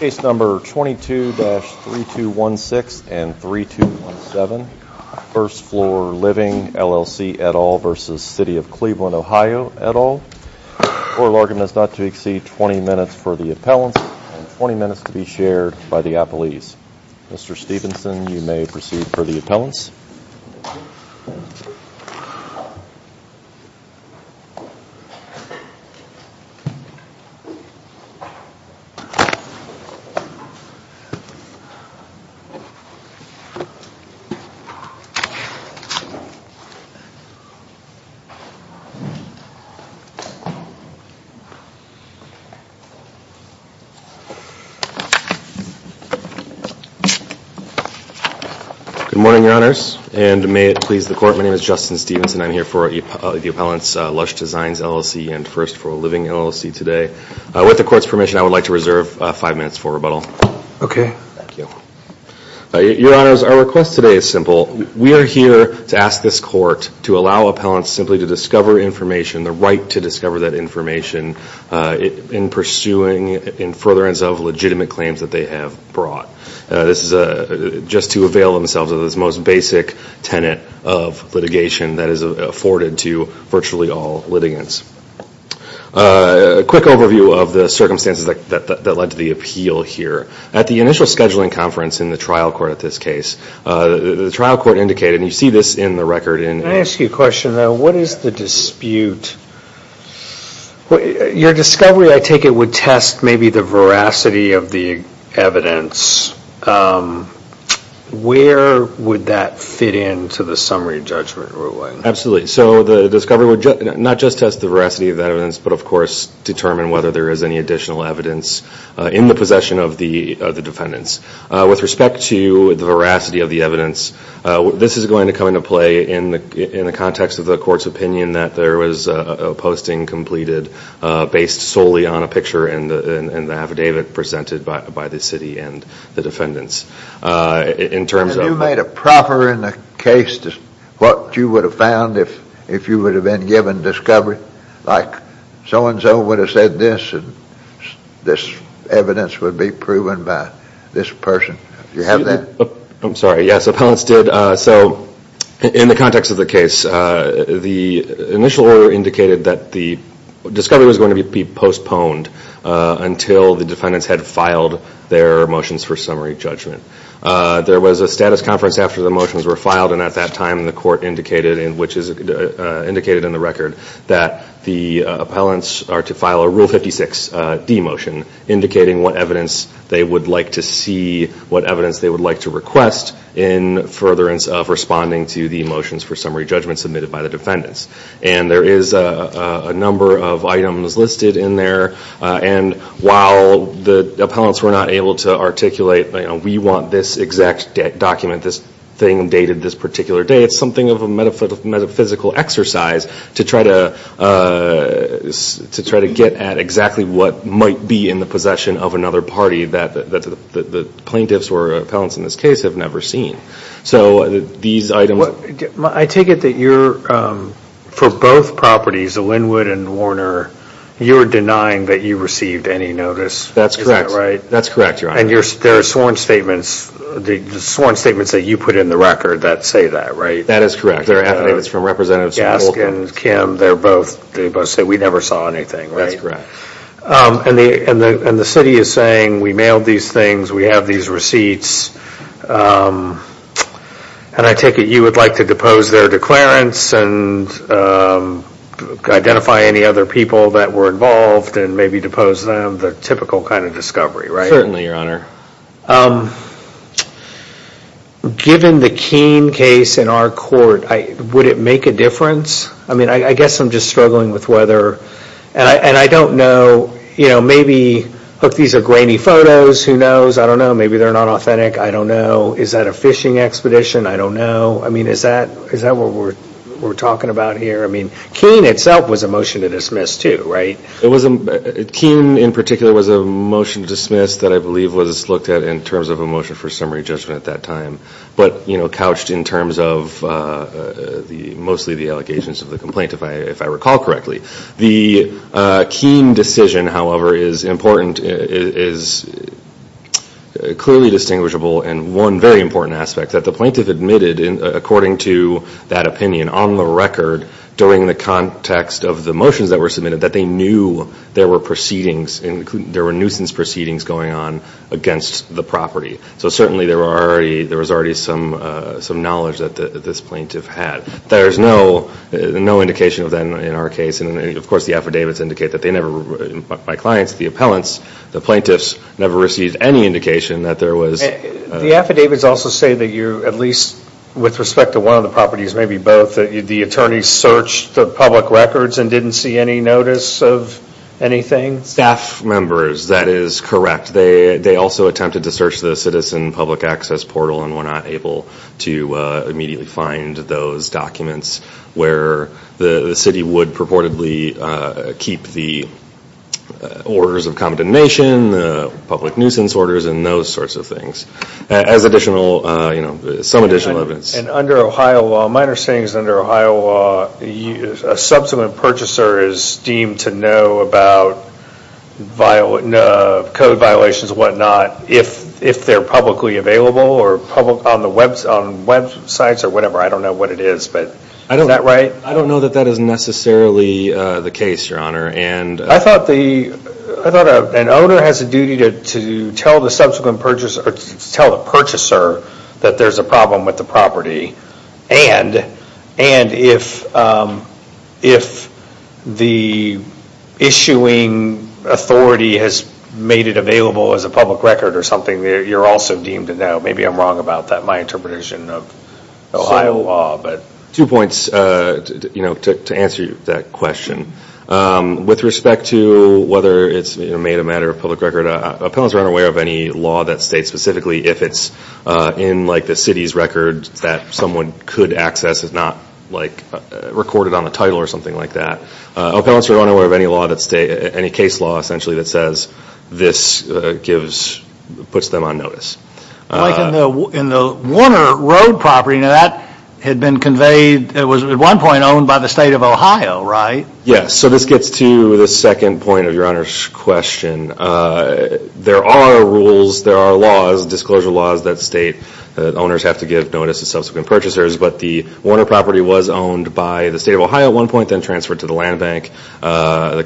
Case number 22-3216 and 3217 1st Floor Living LLC et al. v. City of Cleveland OH et al. Oral argument is not to exceed 20 minutes for the appellants and 20 minutes to be shared by the appellees. Mr. Stephenson, you may proceed for the appellants. Good morning, Your Honors. And may it please the Court, my name is Justin Stephenson. I'm here for the appellants' Lush Designs LLC and 1st Floor Living LLC today. With the Court's permission, I would like to reserve five minutes for rebuttal. Your Honors, our request today is simple. We are here to ask this Court to allow appellants simply to discover information, the right to discover that information in pursuing in furtherance of legitimate claims that they have brought. This is just to avail themselves of this most basic tenet of litigation that is afforded to virtually all litigants. A quick overview of the circumstances that led to the appeal here. At the initial scheduling conference in the trial court at this case, the trial court indicated, and you see this in the record. Can I ask you a question? What is the dispute? Your discovery, I take it, would test maybe the veracity of the evidence. Where would that fit into the summary judgment? Absolutely. So the discovery would not just test the veracity of the evidence, but of course, determine whether there is any additional evidence in the possession of the defendants. With respect to the veracity of the evidence, this is going to come into play in the context of the Court's opinion that there was a posting completed based solely on a picture in the affidavit presented by the city and the defendants. And you made it proper in the case what you would have found if you would have been given discovery? Like so-and-so would have said this and this evidence would be proven by this person. Do you have that? I'm sorry. Yes, appellants did. So in the context of the case, the initial order indicated that the discovery was going to be postponed until the defendants had filed their motions for summary judgment. There was a status conference after the motions were filed, and at that time the Court indicated, which is indicated in the record, that the appellants are to file a Rule 56d motion indicating what evidence they would like to see, what evidence they would like to request in furtherance of responding to the motions for summary judgment submitted by the defendants. And there is a number of items listed in there, and while the appellants were not able to articulate, we want this exact document, this thing dated this particular day, it's something of a metaphysical exercise to try to get at exactly what might be in the possession of another party that the plaintiffs or appellants in this case have never seen. So these items... I take it that you're, for both properties, Linwood and Warner, you're denying that you received any notice. That's correct. And there are sworn statements, the sworn statements that you put in the record that say that, right? That is correct. There are affidavits from Representatives Wolk and Kim, they both say we never saw anything, right? That's correct. And the city is saying, we mailed these things, we have these receipts, and I take it you would like to depose their declarants and identify any other people that were involved and maybe depose them, the typical kind of discovery, right? Certainly, Your Honor. Given the Keene case in our court, would it make a difference? I mean, I guess I'm just struggling with whether, and I don't know, you know, maybe, look, these are grainy photos, who knows? I don't know, maybe they're not authentic, I don't know. Is that a fishing expedition? I don't know. I mean, is that what we're talking about here? I mean, Keene itself was a motion to dismiss too, right? Keene in particular was a motion to dismiss that I believe was looked at in terms of a motion for summary judgment at that time, but, you know, couched in terms of mostly the allegations of the complaint, if I recall correctly. The Keene decision, however, is important, is clearly distinguishable, and one very important aspect, that the plaintiff admitted, according to that opinion, on the record, during the context of the motions that were submitted, that they knew there were proceedings, there were nuisance proceedings going on against the property. So certainly there was already some knowledge that this plaintiff had. There's no indication of that in our case, and of course the affidavits indicate that they never, my clients, the appellants, the plaintiffs, never received any indication that there was... The affidavits also say that you, at least with respect to one of the properties, maybe both, that the attorneys searched the public records and didn't see any notice of anything? Staff members, that is correct. They also attempted to search the citizen public access portal and were not able to immediately find those documents where the city would purportedly keep the as additional, some additional evidence. And under Ohio law, minor sayings under Ohio law, a subsequent purchaser is deemed to know about code violations and what not, if they're publicly available, or on websites or whatever, I don't know what it is. Is that right? I don't know that that is necessarily the case, Your Honor. I thought an owner has a duty to tell the subsequent purchaser, or to tell the purchaser that there's a problem with the property, and if the issuing authority has made it available as a public record or something, you're also deemed to know. Maybe I'm wrong about that, my interpretation of Ohio law. Two points to answer that question. With respect to whether it's made a matter of public record, appellants are unaware of any law that states specifically if it's in the city's record that someone could access, it's not recorded on the title or something like that. Appellants are unaware of any law, any case law essentially that says this gives, puts them on notice. Like in the Warner Road property, now that had been conveyed, it was at one point owned by the state of Ohio, right? Yes, so this gets to the second point of Your Honor's question. There are rules, there are laws, disclosure laws that state owners have to give notice to subsequent purchasers, but the Warner property was owned by the state of Ohio at one point, then transferred to the land bank, the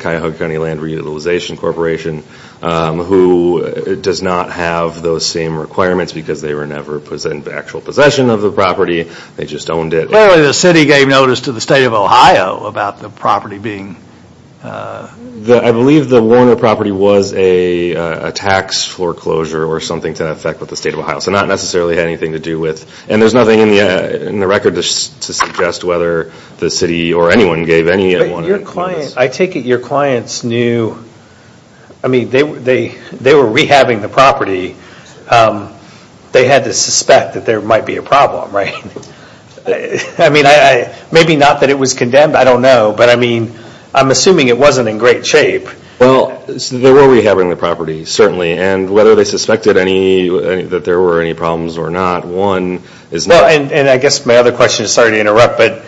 same requirements because they were never in actual possession of the property, they just owned it. Clearly the city gave notice to the state of Ohio about the property being I believe the Warner property was a tax foreclosure or something to that effect with the state of Ohio, so not necessarily had anything to do with, and there's nothing in the record to suggest whether the city or anyone gave any notice. I take it your clients knew, I mean they were rehabbing the property, they had to suspect that there might be a problem, right? Maybe not that it was condemned, I don't know, but I'm assuming it wasn't in great shape. Well, they were rehabbing the property, certainly, and whether they suspected that there were any problems or not, one is not. And I guess my other question, sorry to call it a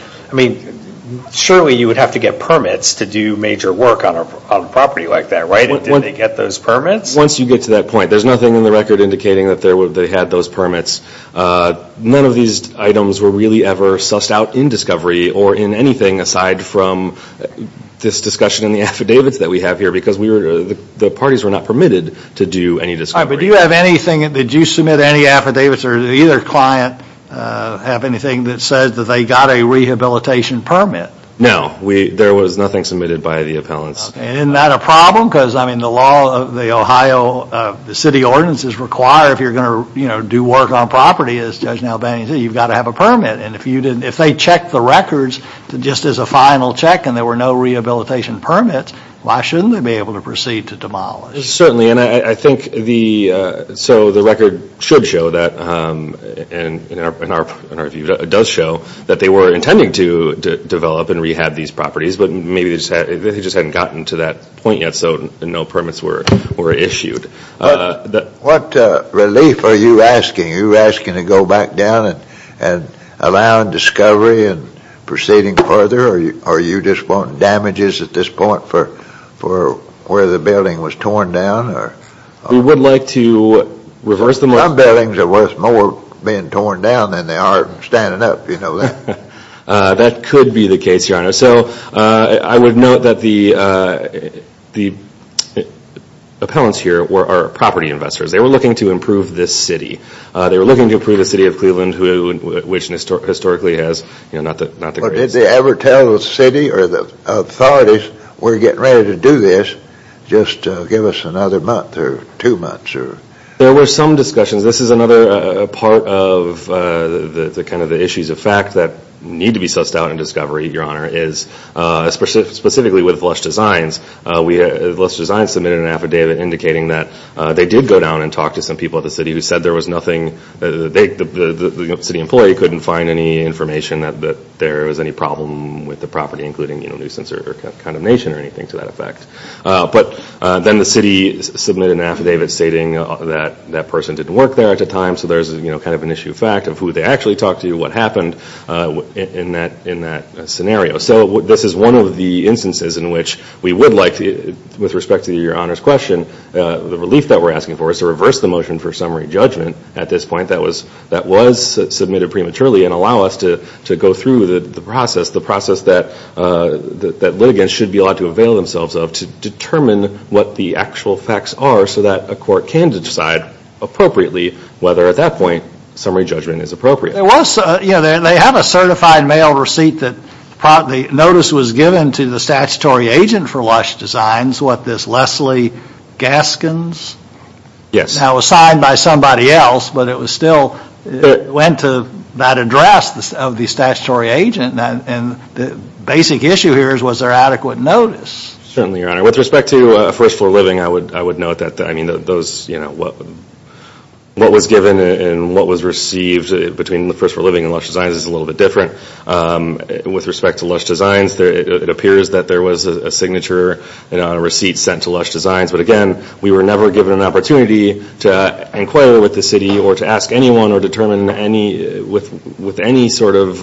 property like that, right? Did they get those permits? Once you get to that point, there's nothing in the record indicating that they had those permits. None of these items were really ever sussed out in discovery or in anything aside from this discussion in the affidavits that we have here because the parties were not permitted to do any discovery. Did you submit any affidavits or did either client have anything that said that they didn't have a permit? Isn't that a problem? Because I mean the law, the Ohio, the city ordinances require if you're going to do work on property, as Judge Albany said, you've got to have a permit. And if you didn't, if they checked the records just as a final check and there were no rehabilitation permits, why shouldn't they be able to proceed to demolish? Certainly. And I think the, so the record should show that, in our view, does show that they were intending to develop and rehab these properties, but maybe they just hadn't gotten to that point yet, so no permits were issued. What relief are you asking? Are you asking to go back down and allow discovery and proceeding further? Or are you just wanting damages at this point for where the building was torn down? We would like to reverse the motion. Some buildings are worth more being torn down than they are standing up, you know that. That could be the case, Your Honor. So I would note that the appellants here are property investors. They were looking to improve this city. They were looking to improve the city of Cleveland, which historically has, you know, not the greatest. Did they ever tell the city or the authorities, we're getting ready to do this, just give us another month or two months? There were some discussions. This is another part of kind of the issues of fact that need to be sussed out in discovery, Your Honor, is specifically with Lush Designs. Lush Designs submitted an affidavit indicating that they did go down and talk to some people at the city who said there was nothing, the city employee couldn't find any information that there was any problem with the property, including, you know, nuisance or condemnation or anything to that effect. But then the city submitted an affidavit stating that that person didn't work there at the time. So there's kind of an issue of fact of who they actually talked to, what happened in that scenario. So this is one of the instances in which we would like, with respect to Your Honor's question, the relief that we're asking for is to reverse the motion for summary judgment at this point that was submitted prematurely and allow us to go through the process, the process that litigants should be allowed to avail themselves of to determine what the actual facts are so that a court can decide appropriately whether at that point summary judgment is appropriate. There was, you know, they have a certified mail receipt that notice was given to the statutory agent for Lush Designs, what, this Leslie Gaskins? Yes. Now it was signed by somebody else, but it was still, it went to that address of the statutory agent and the basic issue here is was there adequate notice? Certainly, Your Honor. With respect to First Floor Living, I would note that those, you know, what was given and what was received between First Floor Living and Lush Designs is a little bit different. With respect to Lush Designs, it was never given an opportunity to inquire with the city or to ask anyone or determine with any sort of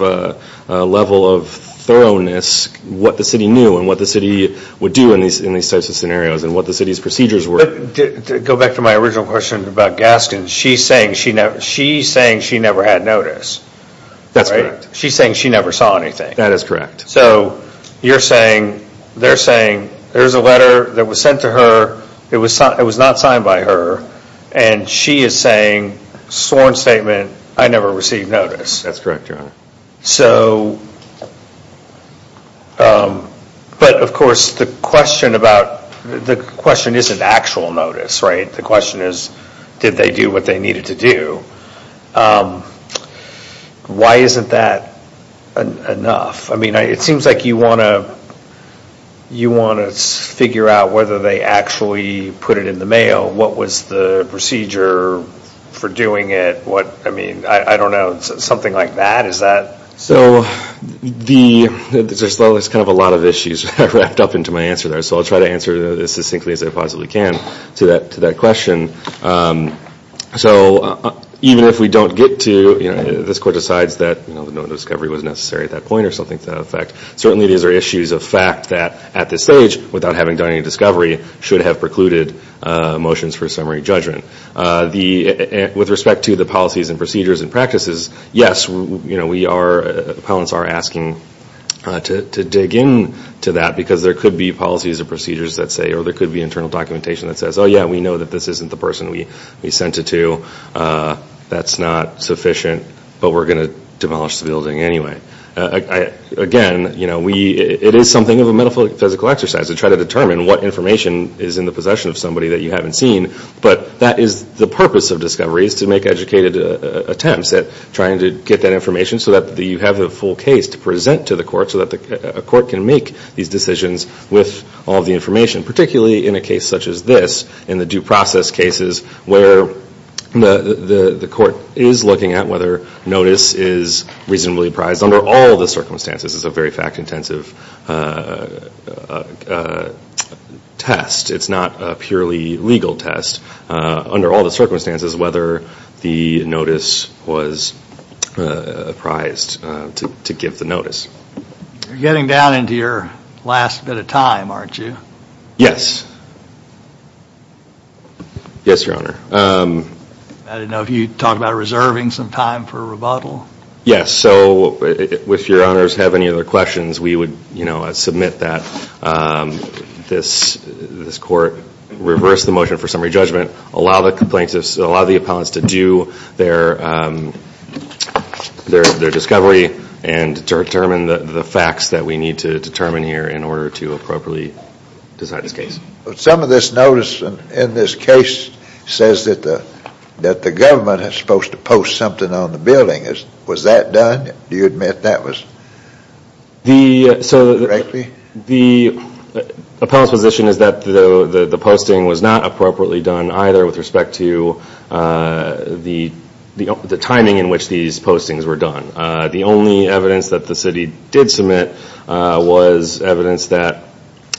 level of thoroughness what the city knew and what the city would do in these types of scenarios and what the city's procedures were. To go back to my original question about Gaskins, she's saying she never had notice. That's correct. She's saying she never saw anything. That is correct. So you're saying, they're saying, there's a letter that was sent to her, it was not signed by her, and she is saying, sworn statement, I never received notice. That's correct, Your Honor. So, but of course the question about, the question isn't actual notice, right? The question is, did they do what they needed to do? Why isn't that enough? I mean, it seems like you want to figure out whether they actually put it in the mail. What was the procedure for doing it? I don't know, something like that? Is that? So, there's kind of a lot of issues wrapped up into my answer there, so I'll try to answer this as succinctly as I possibly can to that question. So, even if we don't get to, this Court decides that no discovery was necessary at that point or something to that effect, certainly these are issues of fact that, at this stage, without having done any discovery, should have precluded motions for summary judgment. With respect to the policies and procedures and practices, yes, we are, appellants are asking to dig into that because there could be policies or procedures that say, or there could be internal documentation that says, oh yeah, we know that this isn't the person we sent it to. That's not sufficient, but we're going to demolish the building anyway. Again, you know, it is something of a metaphysical exercise to try to determine what information is in the possession of somebody that you haven't seen, but that is the purpose of discovery, is to make educated attempts at trying to get that information so that you have the full case to present to the Court so that the Court can make these decisions with all the information, particularly in a case such as this, in the due process cases where the Court is looking at whether notice is reasonably apprised under all the circumstances. This is a very fact-intensive test. It's not a purely legal test. Under all the circumstances, whether the notice was apprised to give the notice. You're getting down into your last bit of time, aren't you? Yes. Yes, Your Honor. I didn't know if you talked about reserving some time for rebuttal. Yes, so if Your Honors have any other questions, we would request the motion for summary judgment, allow the appellants to do their discovery and to determine the facts that we need to determine here in order to appropriately decide this case. Some of this notice in this case says that the government is supposed to post something on the building. Was that done? Do you admit that was done correctly? The appellant's position is that the posting was not appropriately done either with respect to the timing in which these postings were done. The only evidence that the city did submit was evidence that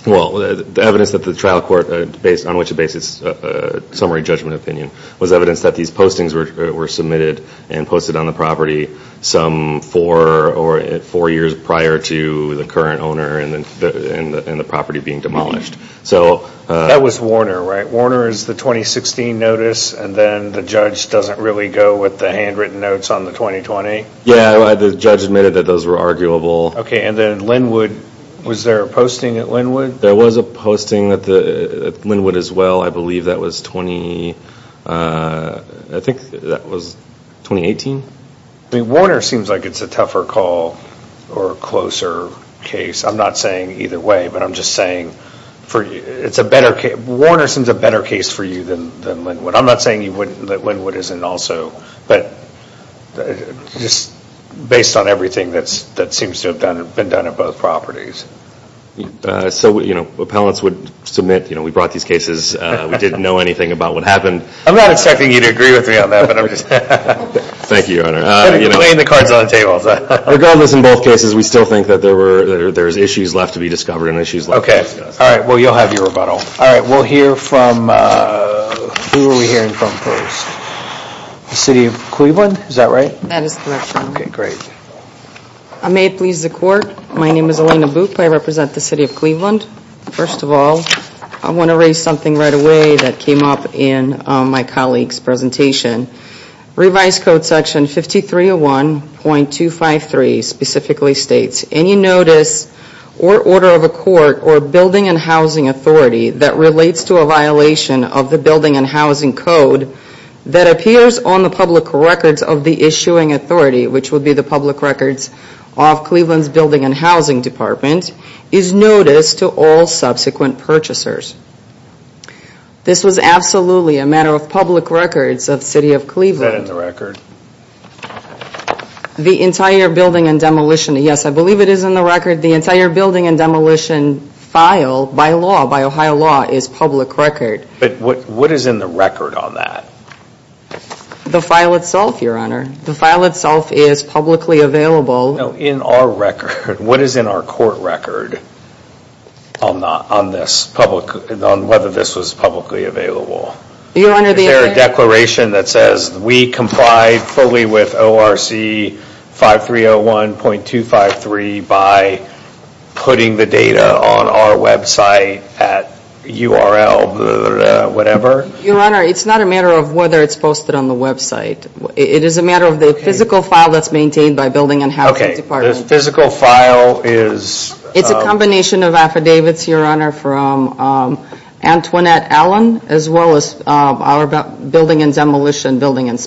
the trial court based on which it bases a summary judgment opinion was evidence that these postings were submitted and posted on the property four years prior to the current owner and the property being demolished. That was Warner, right? Warner is the 2016 notice and then the judge doesn't really go with the handwritten notes on the 2020? Yes, the judge admitted that those were arguable. Was there a posting at Linwood? There was a posting at Linwood as well. I believe that was 2018? Warner seems like it's a tougher call or a closer case. I'm not saying either way, but I'm just saying Warner seems a better case for you than Linwood. I'm not saying that Linwood isn't also, but just based on everything that seems to have been done at both properties. So appellants would submit, we brought these cases, we didn't know anything about what happened. I'm not expecting you to agree with me on that, but I'm just playing the cards on the table. Regardless in both cases, we still think that there's issues left to be discovered and issues left to be discussed. Okay, well you'll have your rebuttal. Who are we hearing from first? The City of Cleveland, is that right? That is correct, Your Honor. Okay, great. May it please the Court, my name is Elena Boop, I represent the City of Cleveland. First of all, I want to raise something right away that came up in my colleague's presentation. Revised Code Section 5301.253 specifically states, any notice or order of a court or building and housing authority that relates to a violation of the Building and Housing Code that appears on the public records of the issuing authority, which would be the public records of Cleveland's Building and Housing Department, is notice to all subsequent purchasers. This was absolutely a matter of public records of the City of Cleveland. Is that in the record? The entire building and demolition, yes I believe it is in the record, the entire building and demolition file by law, by Ohio law, is public record. But what is in the record on that? The file itself, Your Honor. The file itself is publicly available. No, in our record. What is in our court record on this, on whether this was publicly available? Is there a declaration that says we comply fully with ORC 5301.253 by putting the data on our website at URL whatever? Your Honor, it's not a matter of whether it's posted on the website. It is a matter of the physical file that's maintained by Building and Housing Department. Okay, the physical file is... It's a combination of affidavits, Your Honor, from Antoinette Allen as well as our Building and Demolition Building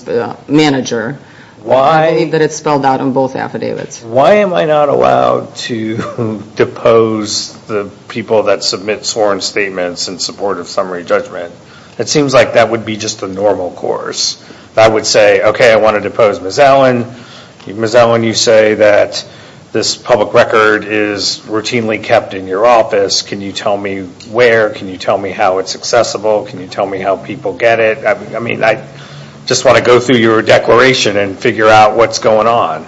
Manager. I believe that it's spelled out on both affidavits. Why am I not allowed to depose the people that submit sworn statements in support of summary judgment? It seems like that would be just a normal course. I would say, okay, I want to depose Ms. Allen. Ms. Allen, you say that this public record is routinely kept in your office. I mean, I just want to go through your declaration and figure out what's going on.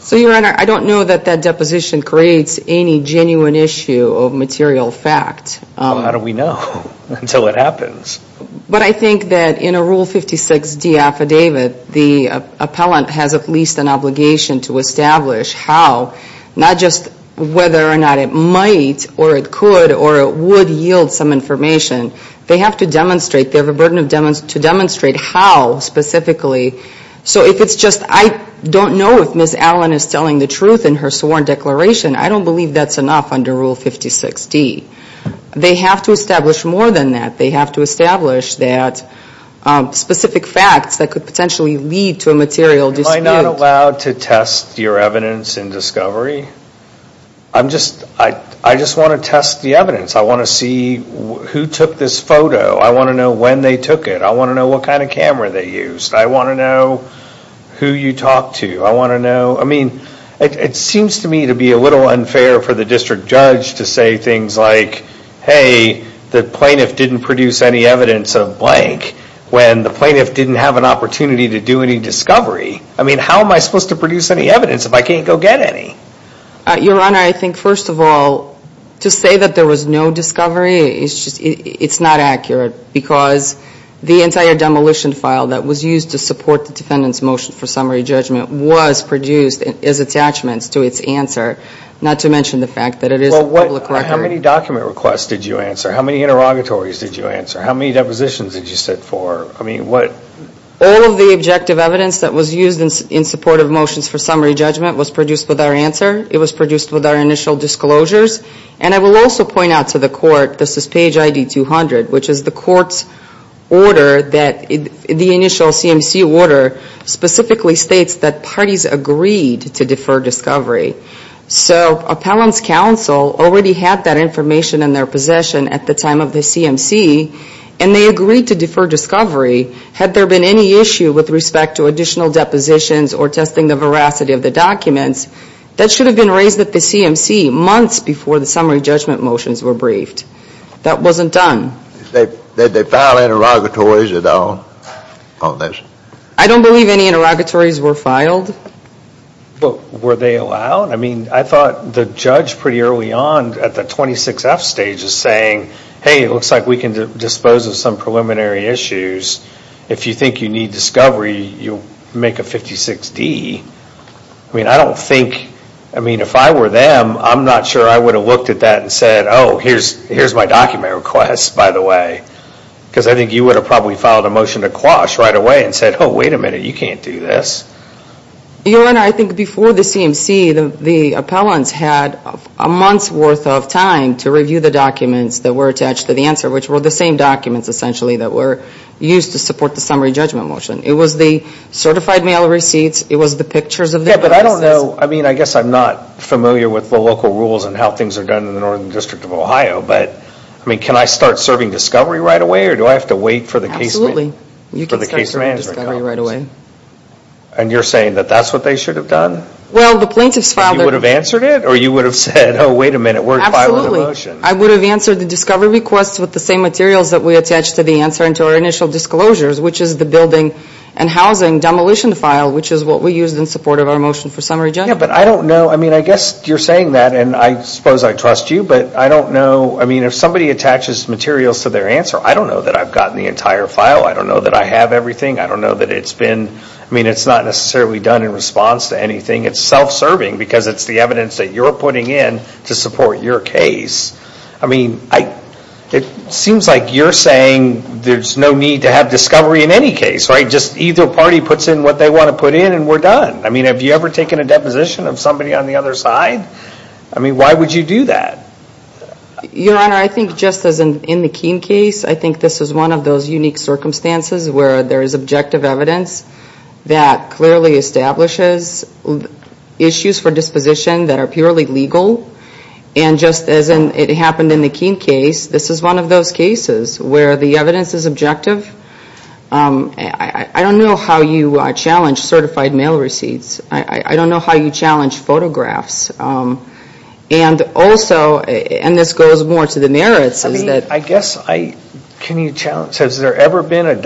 So, Your Honor, I don't know that that deposition creates any genuine issue of material fact. How do we know until it happens? But I think that in a Rule 56D affidavit, the appellant has at least an obligation to establish how, not just whether or not it might or it could or it would yield some information, they have to demonstrate, they have a burden to demonstrate how specifically. So if it's just, I don't know if Ms. Allen is telling the truth in her sworn declaration, I don't believe that's enough under Rule 56D. They have to establish more than that. They have to establish that specific facts that could potentially lead to a material dispute. Am I not allowed to test the evidence? I want to see who took this photo. I want to know when they took it. I want to know what kind of camera they used. I want to know who you talked to. I want to know, I mean, it seems to me to be a little unfair for the district judge to say things like, hey, the plaintiff didn't produce any evidence of blank when the plaintiff didn't have an opportunity to do any discovery. I mean, how am I supposed to say that there was no discovery? It's not accurate because the entire demolition file that was used to support the defendant's motion for summary judgment was produced as attachments to its answer, not to mention the fact that it is a public record. How many document requests did you answer? How many interrogatories did you answer? How many depositions did you sit for? I mean, what? All of the objective evidence that was used in support of motions for summary judgment was produced with our answer. It was produced with our initial disclosures. And I will also point out to the court, this is page ID 200, which is the court's order that the initial CMC order specifically states that parties agreed to defer discovery. So appellant's counsel already had that information in their possession at the time of the CMC, and they agreed to defer the capacity of the documents. That should have been raised at the CMC months before the summary judgment motions were briefed. That wasn't done. Did they file interrogatories at all on this? I don't believe any interrogatories were filed. But were they allowed? I mean, I thought the judge pretty early on at the 26F stage is saying, hey, it looks like we can dispose of some preliminary issues. If you think you need discovery, you'll make a 56D. I mean, if I were them, I'm not sure I would have looked at that and said, oh, here's my document request, by the way. Because I think you would have probably filed a motion to quash right away and said, oh, wait a minute, you can't do this. I think before the CMC, the appellants had a month's worth of time to use to support the summary judgment motion. It was the certified mail receipts. It was the pictures of the notices. Yeah, but I don't know. I mean, I guess I'm not familiar with the local rules and how things are done in the Northern District of Ohio. But, I mean, can I start serving discovery right away, or do I have to wait for the case management? Absolutely. You can start serving discovery right away. And you're saying that that's what they should have done? Well, the plaintiffs filed a motion. You would have answered it? Or you would have said, oh, wait a minute, we're filing a motion. I would have answered the discovery request with the same materials that we attached to the answer and to our initial disclosures, which is the building and housing demolition file, which is what we used in support of our motion for summary judgment. Yeah, but I don't know. I mean, I guess you're saying that, and I suppose I trust you, but I don't know. I mean, if somebody attaches materials to their answer, I don't know that I've gotten the entire file. I don't know that I have everything. I don't know that it's been, I mean, it's not necessarily done in response to anything. It's self-serving because it's the evidence that you're putting in to support your case. I mean, it seems like you're saying there's no need to have discovery in any case, right? Just either party puts in what they want to put in and we're done. I mean, have you ever taken a deposition of somebody on the other side? I mean, why would you do that? Your Honor, I think just as in the Keene case, I think this is one of those unique circumstances where there is objective evidence that clearly establishes issues for disposition that are purely legal. And just as it happened in the Keene case, this is one of those cases where the evidence is objective. I don't know how you challenge certified mail receipts. I don't know how you challenge photographs. And also, and this goes more to the merits, is that... I don't know that there's been a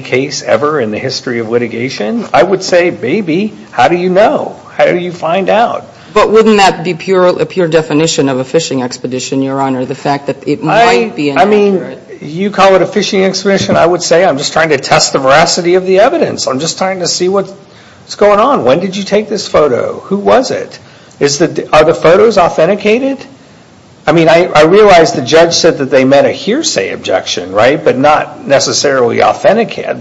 case ever in the history of litigation. I would say maybe. How do you know? How do you find out? But wouldn't that be a pure definition of a phishing expedition, Your Honor? I mean, you call it a phishing expedition, I would say I'm just trying to test the veracity of the evidence. I'm just trying to see what's going on. When did you take this photo? Who was it? Are the photos authenticated? I mean, I realize the judge said that they met a hearsay objection, right? But not necessarily authenticated,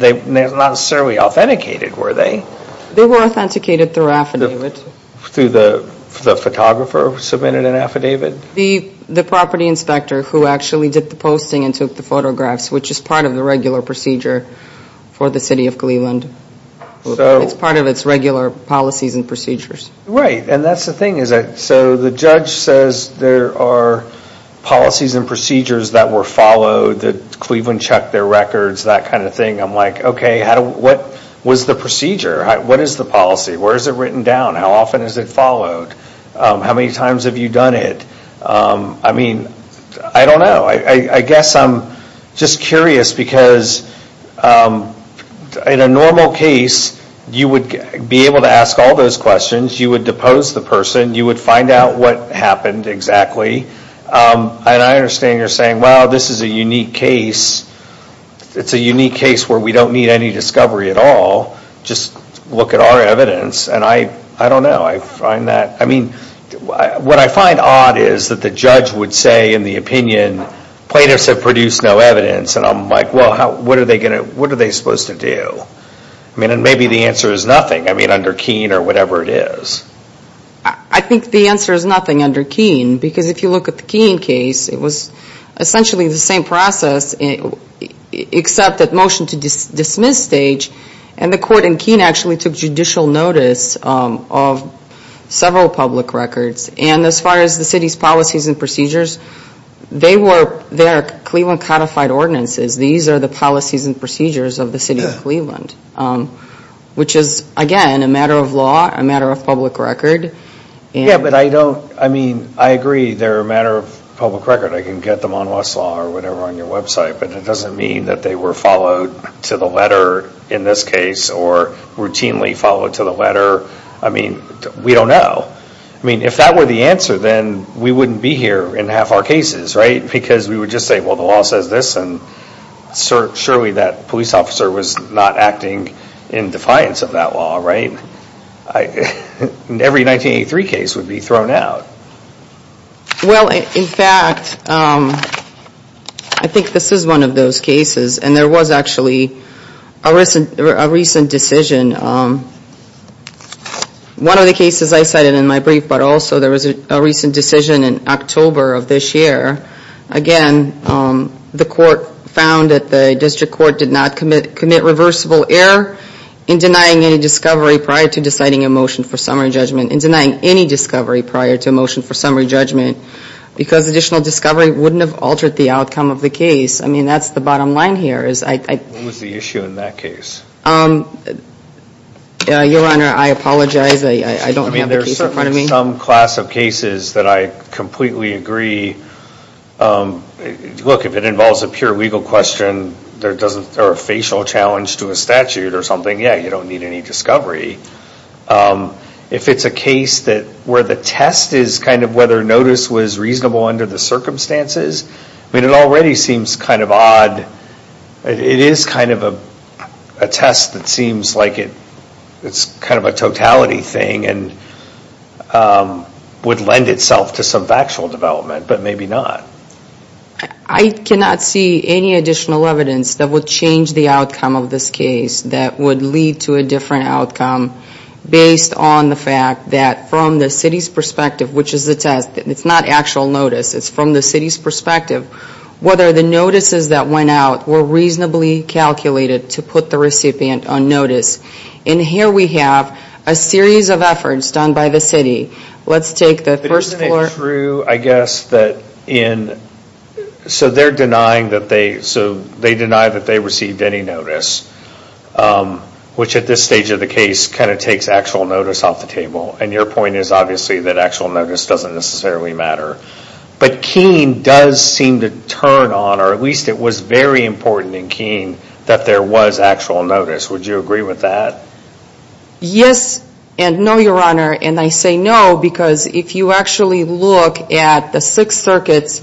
were they? They were authenticated through affidavit. Through the photographer who submitted an affidavit? The property inspector who actually did the posting and took the photographs, which is part of the regular procedure for the City of Cleveland. It's part of its regular policies and procedures. Right, and that's the thing. So the judge says there are policies and procedures that were followed, that Cleveland checked their records, that kind of thing. I'm like, okay, what was the procedure? What is the policy? Where is it written down? How often is it followed? How many times have you done it? I mean, I don't know. I guess I'm just curious because in a normal case, you would be able to ask all those questions. You would depose the person. You would find out what happened exactly. And I understand you're saying, well, this is a unique case. It's a unique case where we don't need any discovery at all. Just look at our evidence. And I don't know. I find that, I mean, what I find odd is that the judge would say in the opinion, plaintiffs have produced no evidence. And I'm like, well, what are they supposed to do? I mean, and maybe the answer is nothing. I mean, under Keene or whatever it is. I think the answer is nothing under Keene. Because if you look at the Keene case, it was essentially the same process except that motion to dismiss stage and the court in Keene actually took judicial notice of several public records. And as far as the city's policies and procedures, they were their Cleveland codified ordinances. These are the policies and procedures of the city of Cleveland. Which is, again, a matter of law, a matter of public record. Yeah, but I don't, I mean, I agree they're a matter of public record. I can get them on Westlaw or whatever on your website. But it doesn't mean that they were followed to the letter in this case or routinely followed to the letter. I mean, we don't know. I mean, if that were the answer, then we wouldn't be here in half our cases, right? Because we would just say, well, the law says this, and surely that police officer was not acting in defiance of that law, right? Every 1983 case would be thrown out. Well, in fact, I think this is one of those cases. And there was actually a recent decision. One of the cases I cited in my brief, but also there was a recent decision in October of this year. Again, the court found that the district court did not commit reversible error in denying any discovery prior to deciding a motion for summary judgment. In denying any discovery prior to a motion for summary judgment. Because additional discovery wouldn't have altered the outcome of the case. I mean, that's the bottom line here. What was the issue in that case? Your Honor, I apologize. I don't have the case in front of me. Look, if it involves a pure legal question, or a facial challenge to a statute or something, yeah, you don't need any discovery. If it's a case where the test is kind of whether notice was reasonable under the circumstances, it already seems kind of odd. It is kind of a test that seems like it's kind of a totality thing. And would lend itself to some factual development. But maybe not. I cannot see any additional evidence that would change the outcome of this case that would lead to a different outcome based on the fact that from the city's perspective, which is the test, it's not actual notice, it's from the city's perspective, whether the notices that went out were reasonably calculated to put the recipient on notice. And here we have a series of efforts done by the city. Let's take the first floor. Isn't it true, I guess, that in, so they're denying that they received any notice, which at this stage of the case kind of takes actual notice off the table. And your point is obviously that actual notice doesn't necessarily matter. But Keene does seem to turn on, or at least it was very important in Keene, that there was actual notice. Would you agree with that? Yes and no, Your Honor. And I say no because if you actually look at the Sixth Circuit's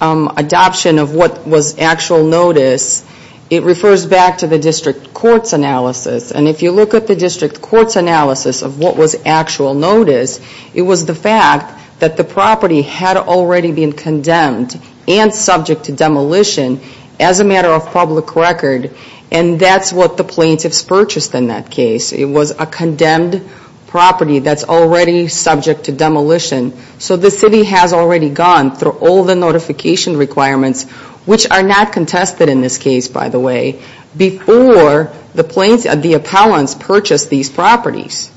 adoption of what was actual notice, it refers back to the district court's analysis. And if you look at the district court's analysis of what was actual notice, it was the fact that the property had already been condemned and subject to demolition as a matter of public record. And that's what the plaintiffs purchased in that case. It was a condemned property that's already subject to demolition. So the city has already gone through all the notification requirements, which are not contested in this case, by the way, before the plaintiffs, the appellants purchased these properties.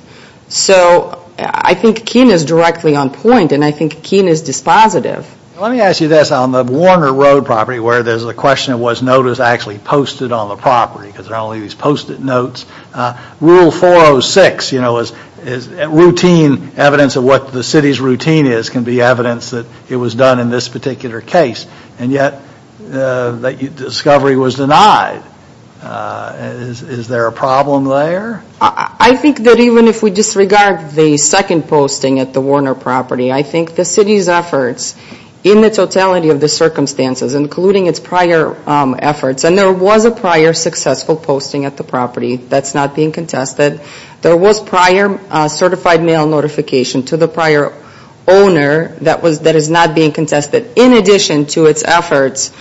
So I think Keene is directly on point and I think Keene is dispositive. Let me ask you this. On the Warner Road property where there's a question of was notice actually posted on the property because there are only these post-it notes, Rule 406 is routine evidence of what the city's routine is can be evidence that it was done in this particular case. And yet that discovery was denied. Is there a problem there? I think that even if we disregard the second posting at the Warner property, I think the city's efforts in the totality of the circumstances, including its prior efforts, and there was a prior successful posting at the property that's not being contested. There was prior certified mail notification to the prior owner that is not being contested in addition to its efforts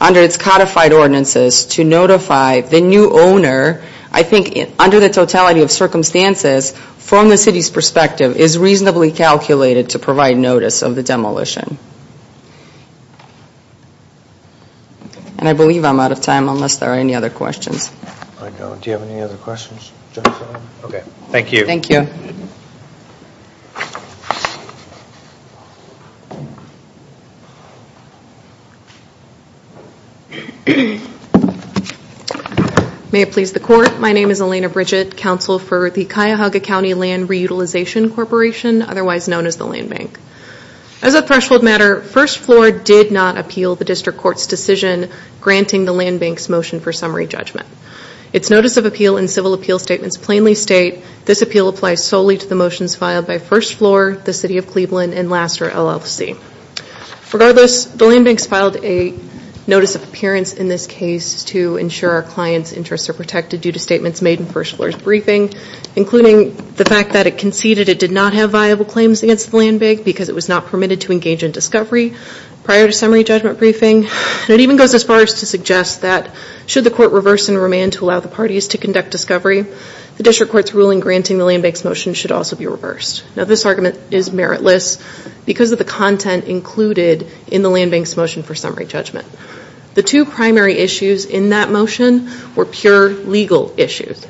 under its codified ordinances to notify the new owner. I think under the totality of circumstances from the city's calculations to provide notice of the demolition. And I believe I'm out of time unless there are any other questions. Do you have any other questions? Okay. Thank you. May it please the Court. My name is Elena Bridget, Counsel for the Cuyahoga County Land Reutilization Corporation. Otherwise known as the Land Bank. As a threshold matter, First Floor did not appeal the District Court's decision granting the Land Bank's motion for summary judgment. Its Notice of Appeal and Civil Appeal Statements plainly state this appeal applies solely to the motions filed by First Floor, the City of Cleveland, and Lassiter LLC. Regardless, the Land Bank's filed a Notice of Appearance in this case to ensure our client's interests are protected due to statements made in First Floor's briefing, including the fact that it conceded it did not have viable claims against the Land Bank because it was not permitted to engage in discovery prior to summary judgment briefing. And it even goes as far as to suggest that should the Court reverse and remand to allow the parties to conduct discovery, the District Court's ruling granting the Land Bank's motion should also be reversed. Now this argument is meritless because of the content included in the Land Bank's motion for legal issues.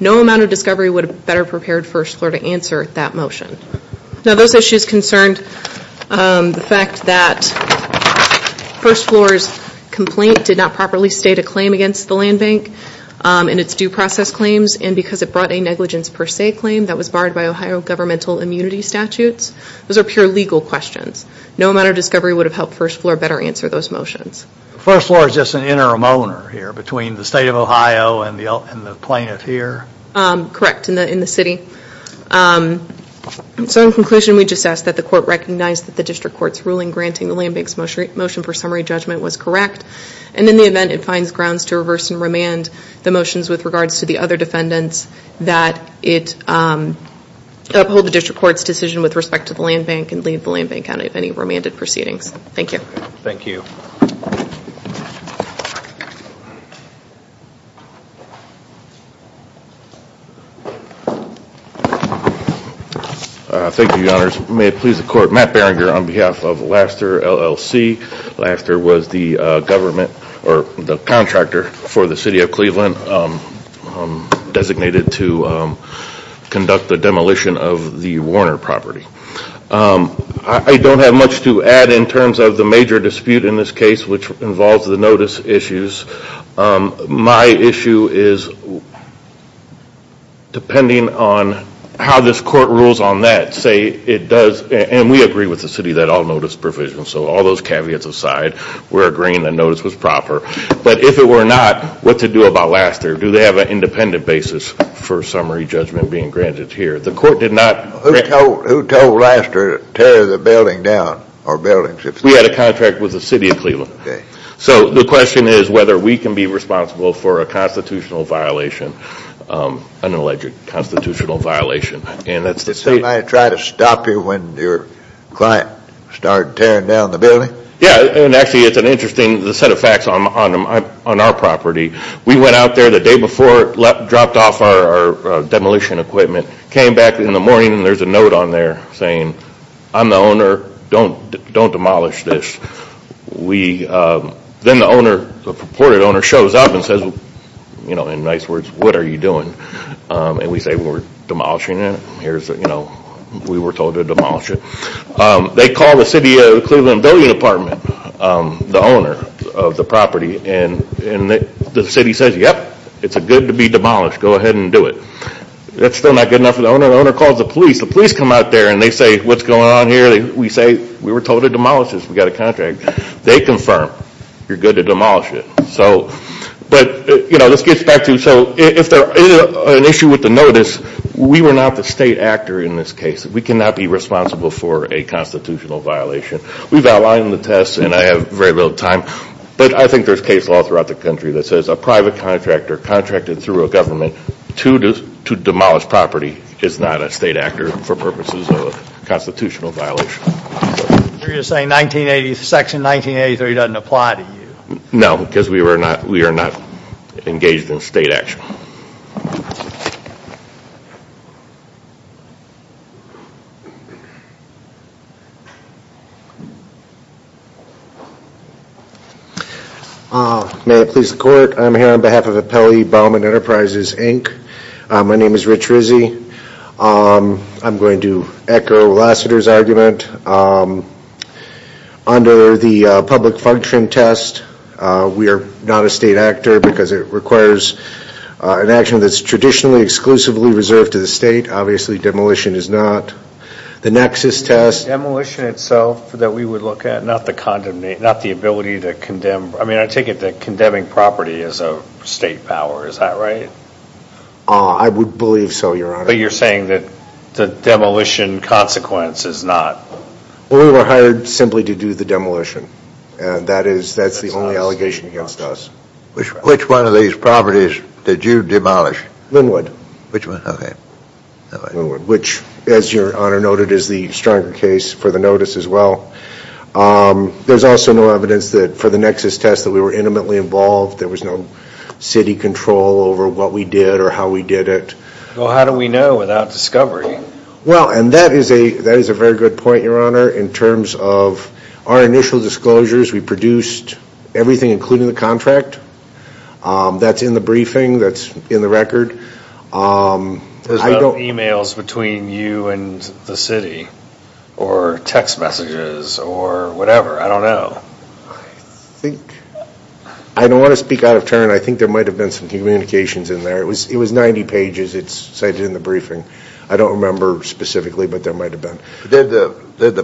No amount of discovery would have better prepared First Floor to answer that motion. Now those issues concerned the fact that First Floor's complaint did not properly state a claim against the Land Bank and its due process claims and because it brought a negligence per se claim that was barred by Ohio governmental immunity statutes. Those are pure legal questions. No amount of discovery would have helped First Floor better answer those questions. So in conclusion we just ask that the Court recognize that the District Court's ruling granting the Land Bank's motion for summary judgment was correct and in the event it finds grounds to reverse and remand the motions with regards to the other defendants that it uphold the District Court's decision with respect to the Land Bank and leave the Land Bank out of any remanded proceedings. Thank you. Thank you Your Honors. May it please the Court, Matt Barringer on behalf of Laster LLC. Laster was the government or the contractor for the City of Cleveland designated to conduct the demolition of the Warner property. I don't have much to add in terms of the major dispute in this case which is depending on how this court rules on that, say it does, and we agree with the City that all notice provisions, so all those caveats aside, we're agreeing that notice was proper. But if it were not, what to do about Laster? Do they have an independent basis for summary judgment being granted here? Who told Laster to tear the building down? We had a contract with the City of Cleveland. So the question is whether we can be responsible for a constitutional violation, an alleged constitutional violation. Did somebody try to stop you when your client started tearing down the building? Yeah, and actually it's an interesting set of facts on our property. We went out there the day before, dropped off our demolition equipment, came back in the morning, came out there saying, I'm the owner, don't demolish this. Then the owner, the purported owner, shows up and says, in nice words, what are you doing? And we say we're demolishing it. We were told to demolish it. They call the City of Cleveland Building Department, the owner of the property, and the City says, yep, it's good to be here. And they say, what's going on here? We say, we were told to demolish this. We got a contract. They confirm, you're good to demolish it. So if there is an issue with the notice, we were not the state actor in this case. We cannot be responsible for a constitutional violation. We've outlined the tests and I have very little time, but I think there's case law throughout the country that says a private contractor contracted through a government to demolish property is not a state actor for purposes of a constitutional violation. Section 1983 doesn't apply to you? No, because we are not engaged in state action. May I please the court? I'm here on behalf of Appellee Bauman Enterprises, Inc. My name is Rich Rizzi. I'm going to echo Lassiter's argument. Under the public function test, we are not a state actor because it requires an action that's traditionally exclusively reserved to the state. Obviously, demolition is not. The nexus test. Demolition itself that we would look at, not the condemnation, not the ability to condemn. I mean, I take it that condemning property is a state power. Is that right? I would believe so, Your Honor. But you're saying that the demolition consequence is not. Well, we were hired simply to do the demolition. And that is, that's the only allegation against us. Which one of these properties did you demolish? Linwood. Which one? Okay. Linwood, which as Your Honor noted, is the stronger case for the notice as well. There's also no evidence that for the nexus test that we were intimately involved. There was no city control over what we did or how we did it. Well, how do we know without discovery? Well, and that is a very good point, Your Honor. In terms of our initial disclosures, we produced everything including the contract. That's in the briefing. That's in the record. There's no emails between you and the city or text messages or whatever. I don't know. I think, I don't want to speak out of turn. I think there might have been. Did the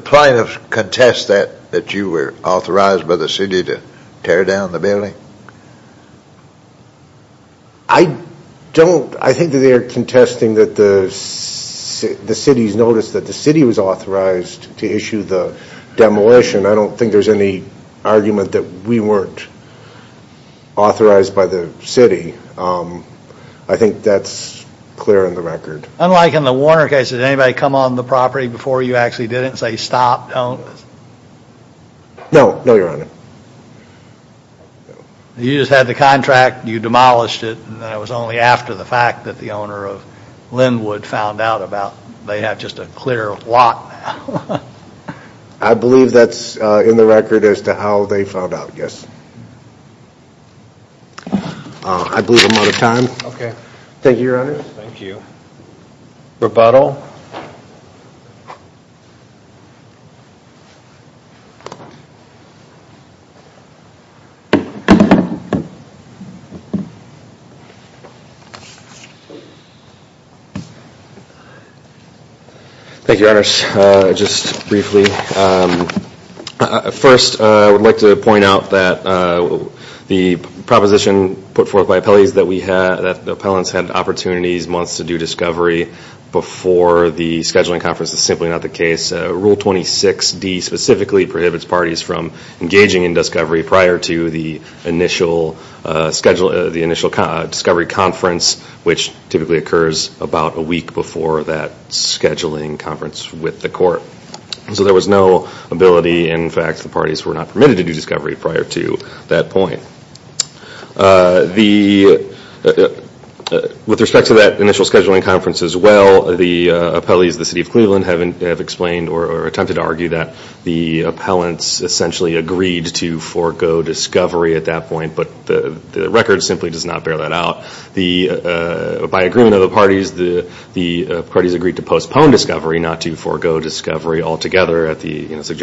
plaintiffs contest that you were authorized by the city to tear down the building? I don't. I think they're contesting that the city's noticed that the city was authorized to issue the demolition. I don't think there's any possibility. I think that's clear in the record. Unlike in the Warner case, did anybody come on the property before you actually did it and say stop, don't? No. No, Your Honor. You just had the contract, you demolished it, and then it was only after the fact that the owner of Linwood found out about they have just a clear lot now. I believe that's in the record as to how they found out, yes. I believe I'm out of time. Thank you, Your Honor. Thank you. Rebuttal. Thank you, Your Honor. Thank you, Your Honor. Just briefly. First, I would like to point out that the proposition put forth by the scheduling conference is simply not the case. Rule 26D specifically prohibits parties from engaging in discovery prior to the initial discovery conference, which typically occurs about a week before that scheduling conference with the court. So there was no ability, in fact, the parties were not permitted to do discovery prior to that point. With respect to that initial scheduling conference as well, the appellees of the City of Cleveland have explained or attempted to argue that the appellants essentially agreed to forego discovery at that point, but the record simply does not bear that out. By agreement of the parties, the parties agreed to postpone discovery, not to forego discovery altogether at the time of the discovery,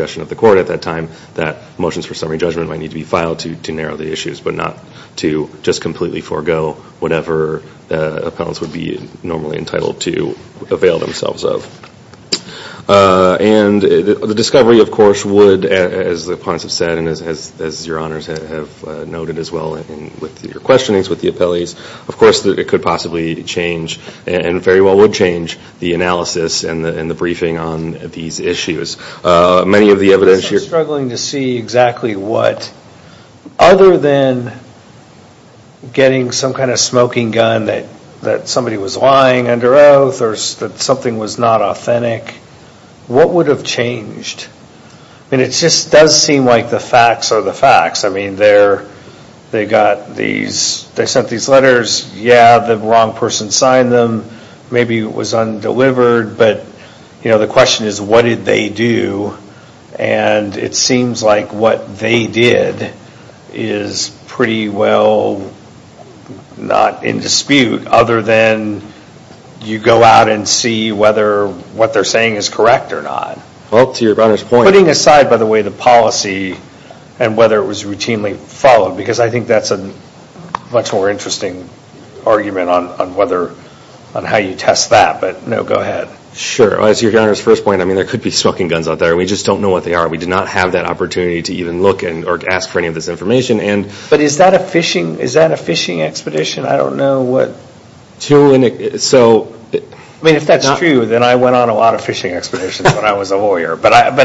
but not to just completely forego whatever appellants would be normally entitled to avail themselves of. And the discovery, of course, would, as the appellants have said and as Your Honors have noted as well with your questionings with the appellees, of course it could possibly change and very well would change the analysis and the briefing on these issues. Many of the evidence here... Other than getting some kind of smoking gun that somebody was lying under oath or that something was not authentic, what would have changed? I mean, it just does seem like the facts are the facts. I mean, they got these, they sent these letters, yeah, the wrong person signed them, maybe it was undelivered, but the question is what did they do, and it seems like what they did is pretty well not in dispute other than you go out and see whether what they're saying is correct or not. Putting aside, by the way, the policy and whether it was routinely followed, because I think that's a much more interesting argument on how you test that, but no, go ahead. Sure. As Your Honors' first point, I mean, there could be smoking guns out there. We just don't know what they are. We did not have that opportunity to even look or ask for any of this information. But is that a fishing expedition? I don't know what... I mean, if that's true, then I went on a lot of fishing expeditions when I was a lawyer. But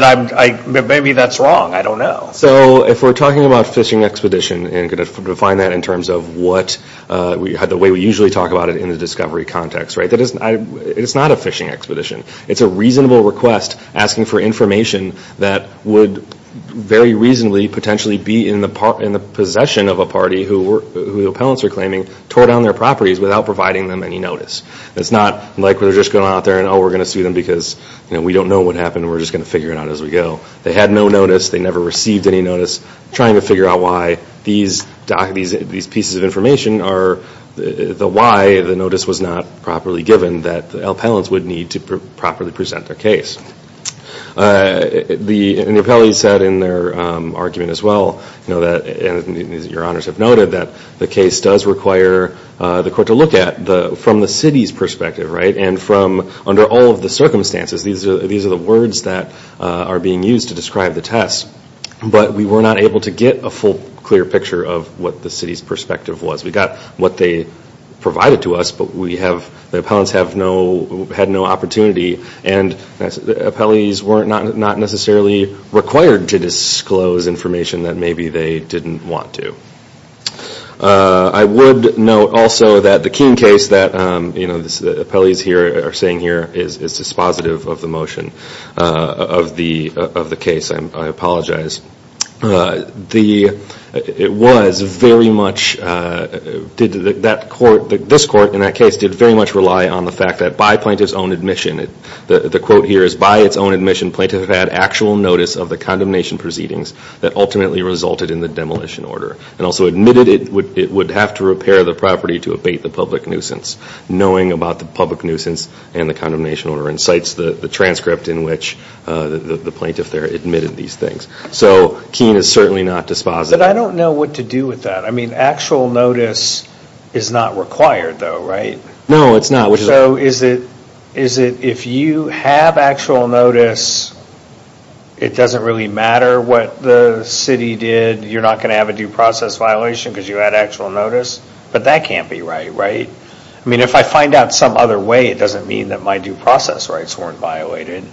maybe that's wrong. I don't know. So if we're talking about fishing expedition and we're going to define that in terms of the way we usually talk about it in the discovery context, it's not a fishing expedition. It's a reasonable request asking for information that would very reasonably potentially be in the possession of a party who the appellants are claiming tore down their properties without providing them any notice. It's not like we're just going out there and, oh, we're going to sue them because we don't know what happened and we're just going to figure it out as we go. They had no notice. They never received any notice. Trying to figure out why these pieces of information are... why the notice was not properly given that the appellants would need to properly present their case. The appellate said in their argument as well, and your honors have noted, that the case does require the court to look at from the city's perspective, right? And from under all of the circumstances, these are the words that are being used to describe the test, but we were not able to get a full clear picture of what the city's perspective was. We got what they provided to us, but the appellants had no opportunity and the appellees were not necessarily required to disclose information that maybe they didn't want to. I would note also that the Keene case that the appellees are saying here is dispositive of the motion of the case. I apologize. This court in that case did very much rely on the fact that by plaintiff's own admission, the quote here is, by its own admission, plaintiff had actual notice of the condemnation proceedings that ultimately resulted in the demolition order and also admitted it would have to repair the property to abate the public nuisance, knowing about the public nuisance and the condemnation order and cites the transcript in which the plaintiff there admitted these things. So Keene is certainly not dispositive. But I don't know what to do with that. I mean, actual notice is not required though, right? No, it's not. If you have actual notice, it doesn't really matter what the city did. You're not going to have a due process violation because you had actual notice, but that can't be right, right? I mean, if I find out some other way, it doesn't mean that my due process rights weren't violated.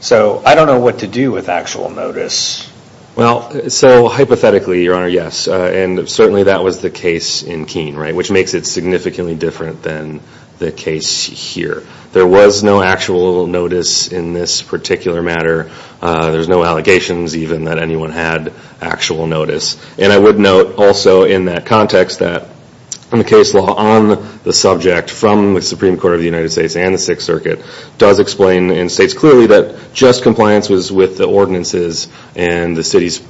So I don't know what to do with actual notice. Well, so hypothetically, Your Honor, yes. And certainly that was the case in Keene, right, which makes it significantly different than the case here. There was no actual notice in this particular matter. There's no allegations even that anyone had actual notice. And I would note also in that context that the case law on the subject from the Supreme Court of the United States and the Sixth Circuit does explain and states clearly that just compliance was with the ordinances and the city's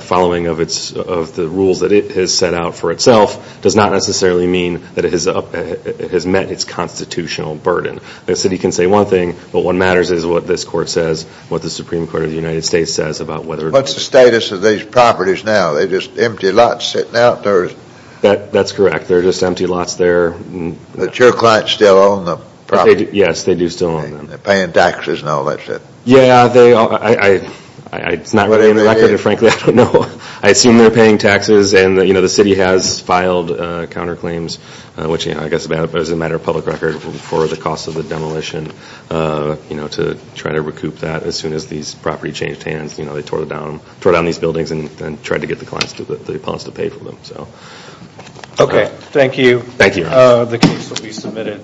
following of the rules that it has set out for itself does not necessarily mean that it has met its constitutional burden. The city can say one thing, but what matters is what this court says, what the Supreme Court of the United States says about whether What's the status of these properties now? They're just empty lots sitting out there. That's correct. They're just empty lots there. Yes, they do still own them. I assume they're paying taxes. And the city has filed counterclaims, which I guess is a matter of public record for the cost of the demolition to try to recoup that as soon as these property changed hands. They tore down these buildings and tried to get the clients to pay for them. Okay, thank you. The case will be submitted.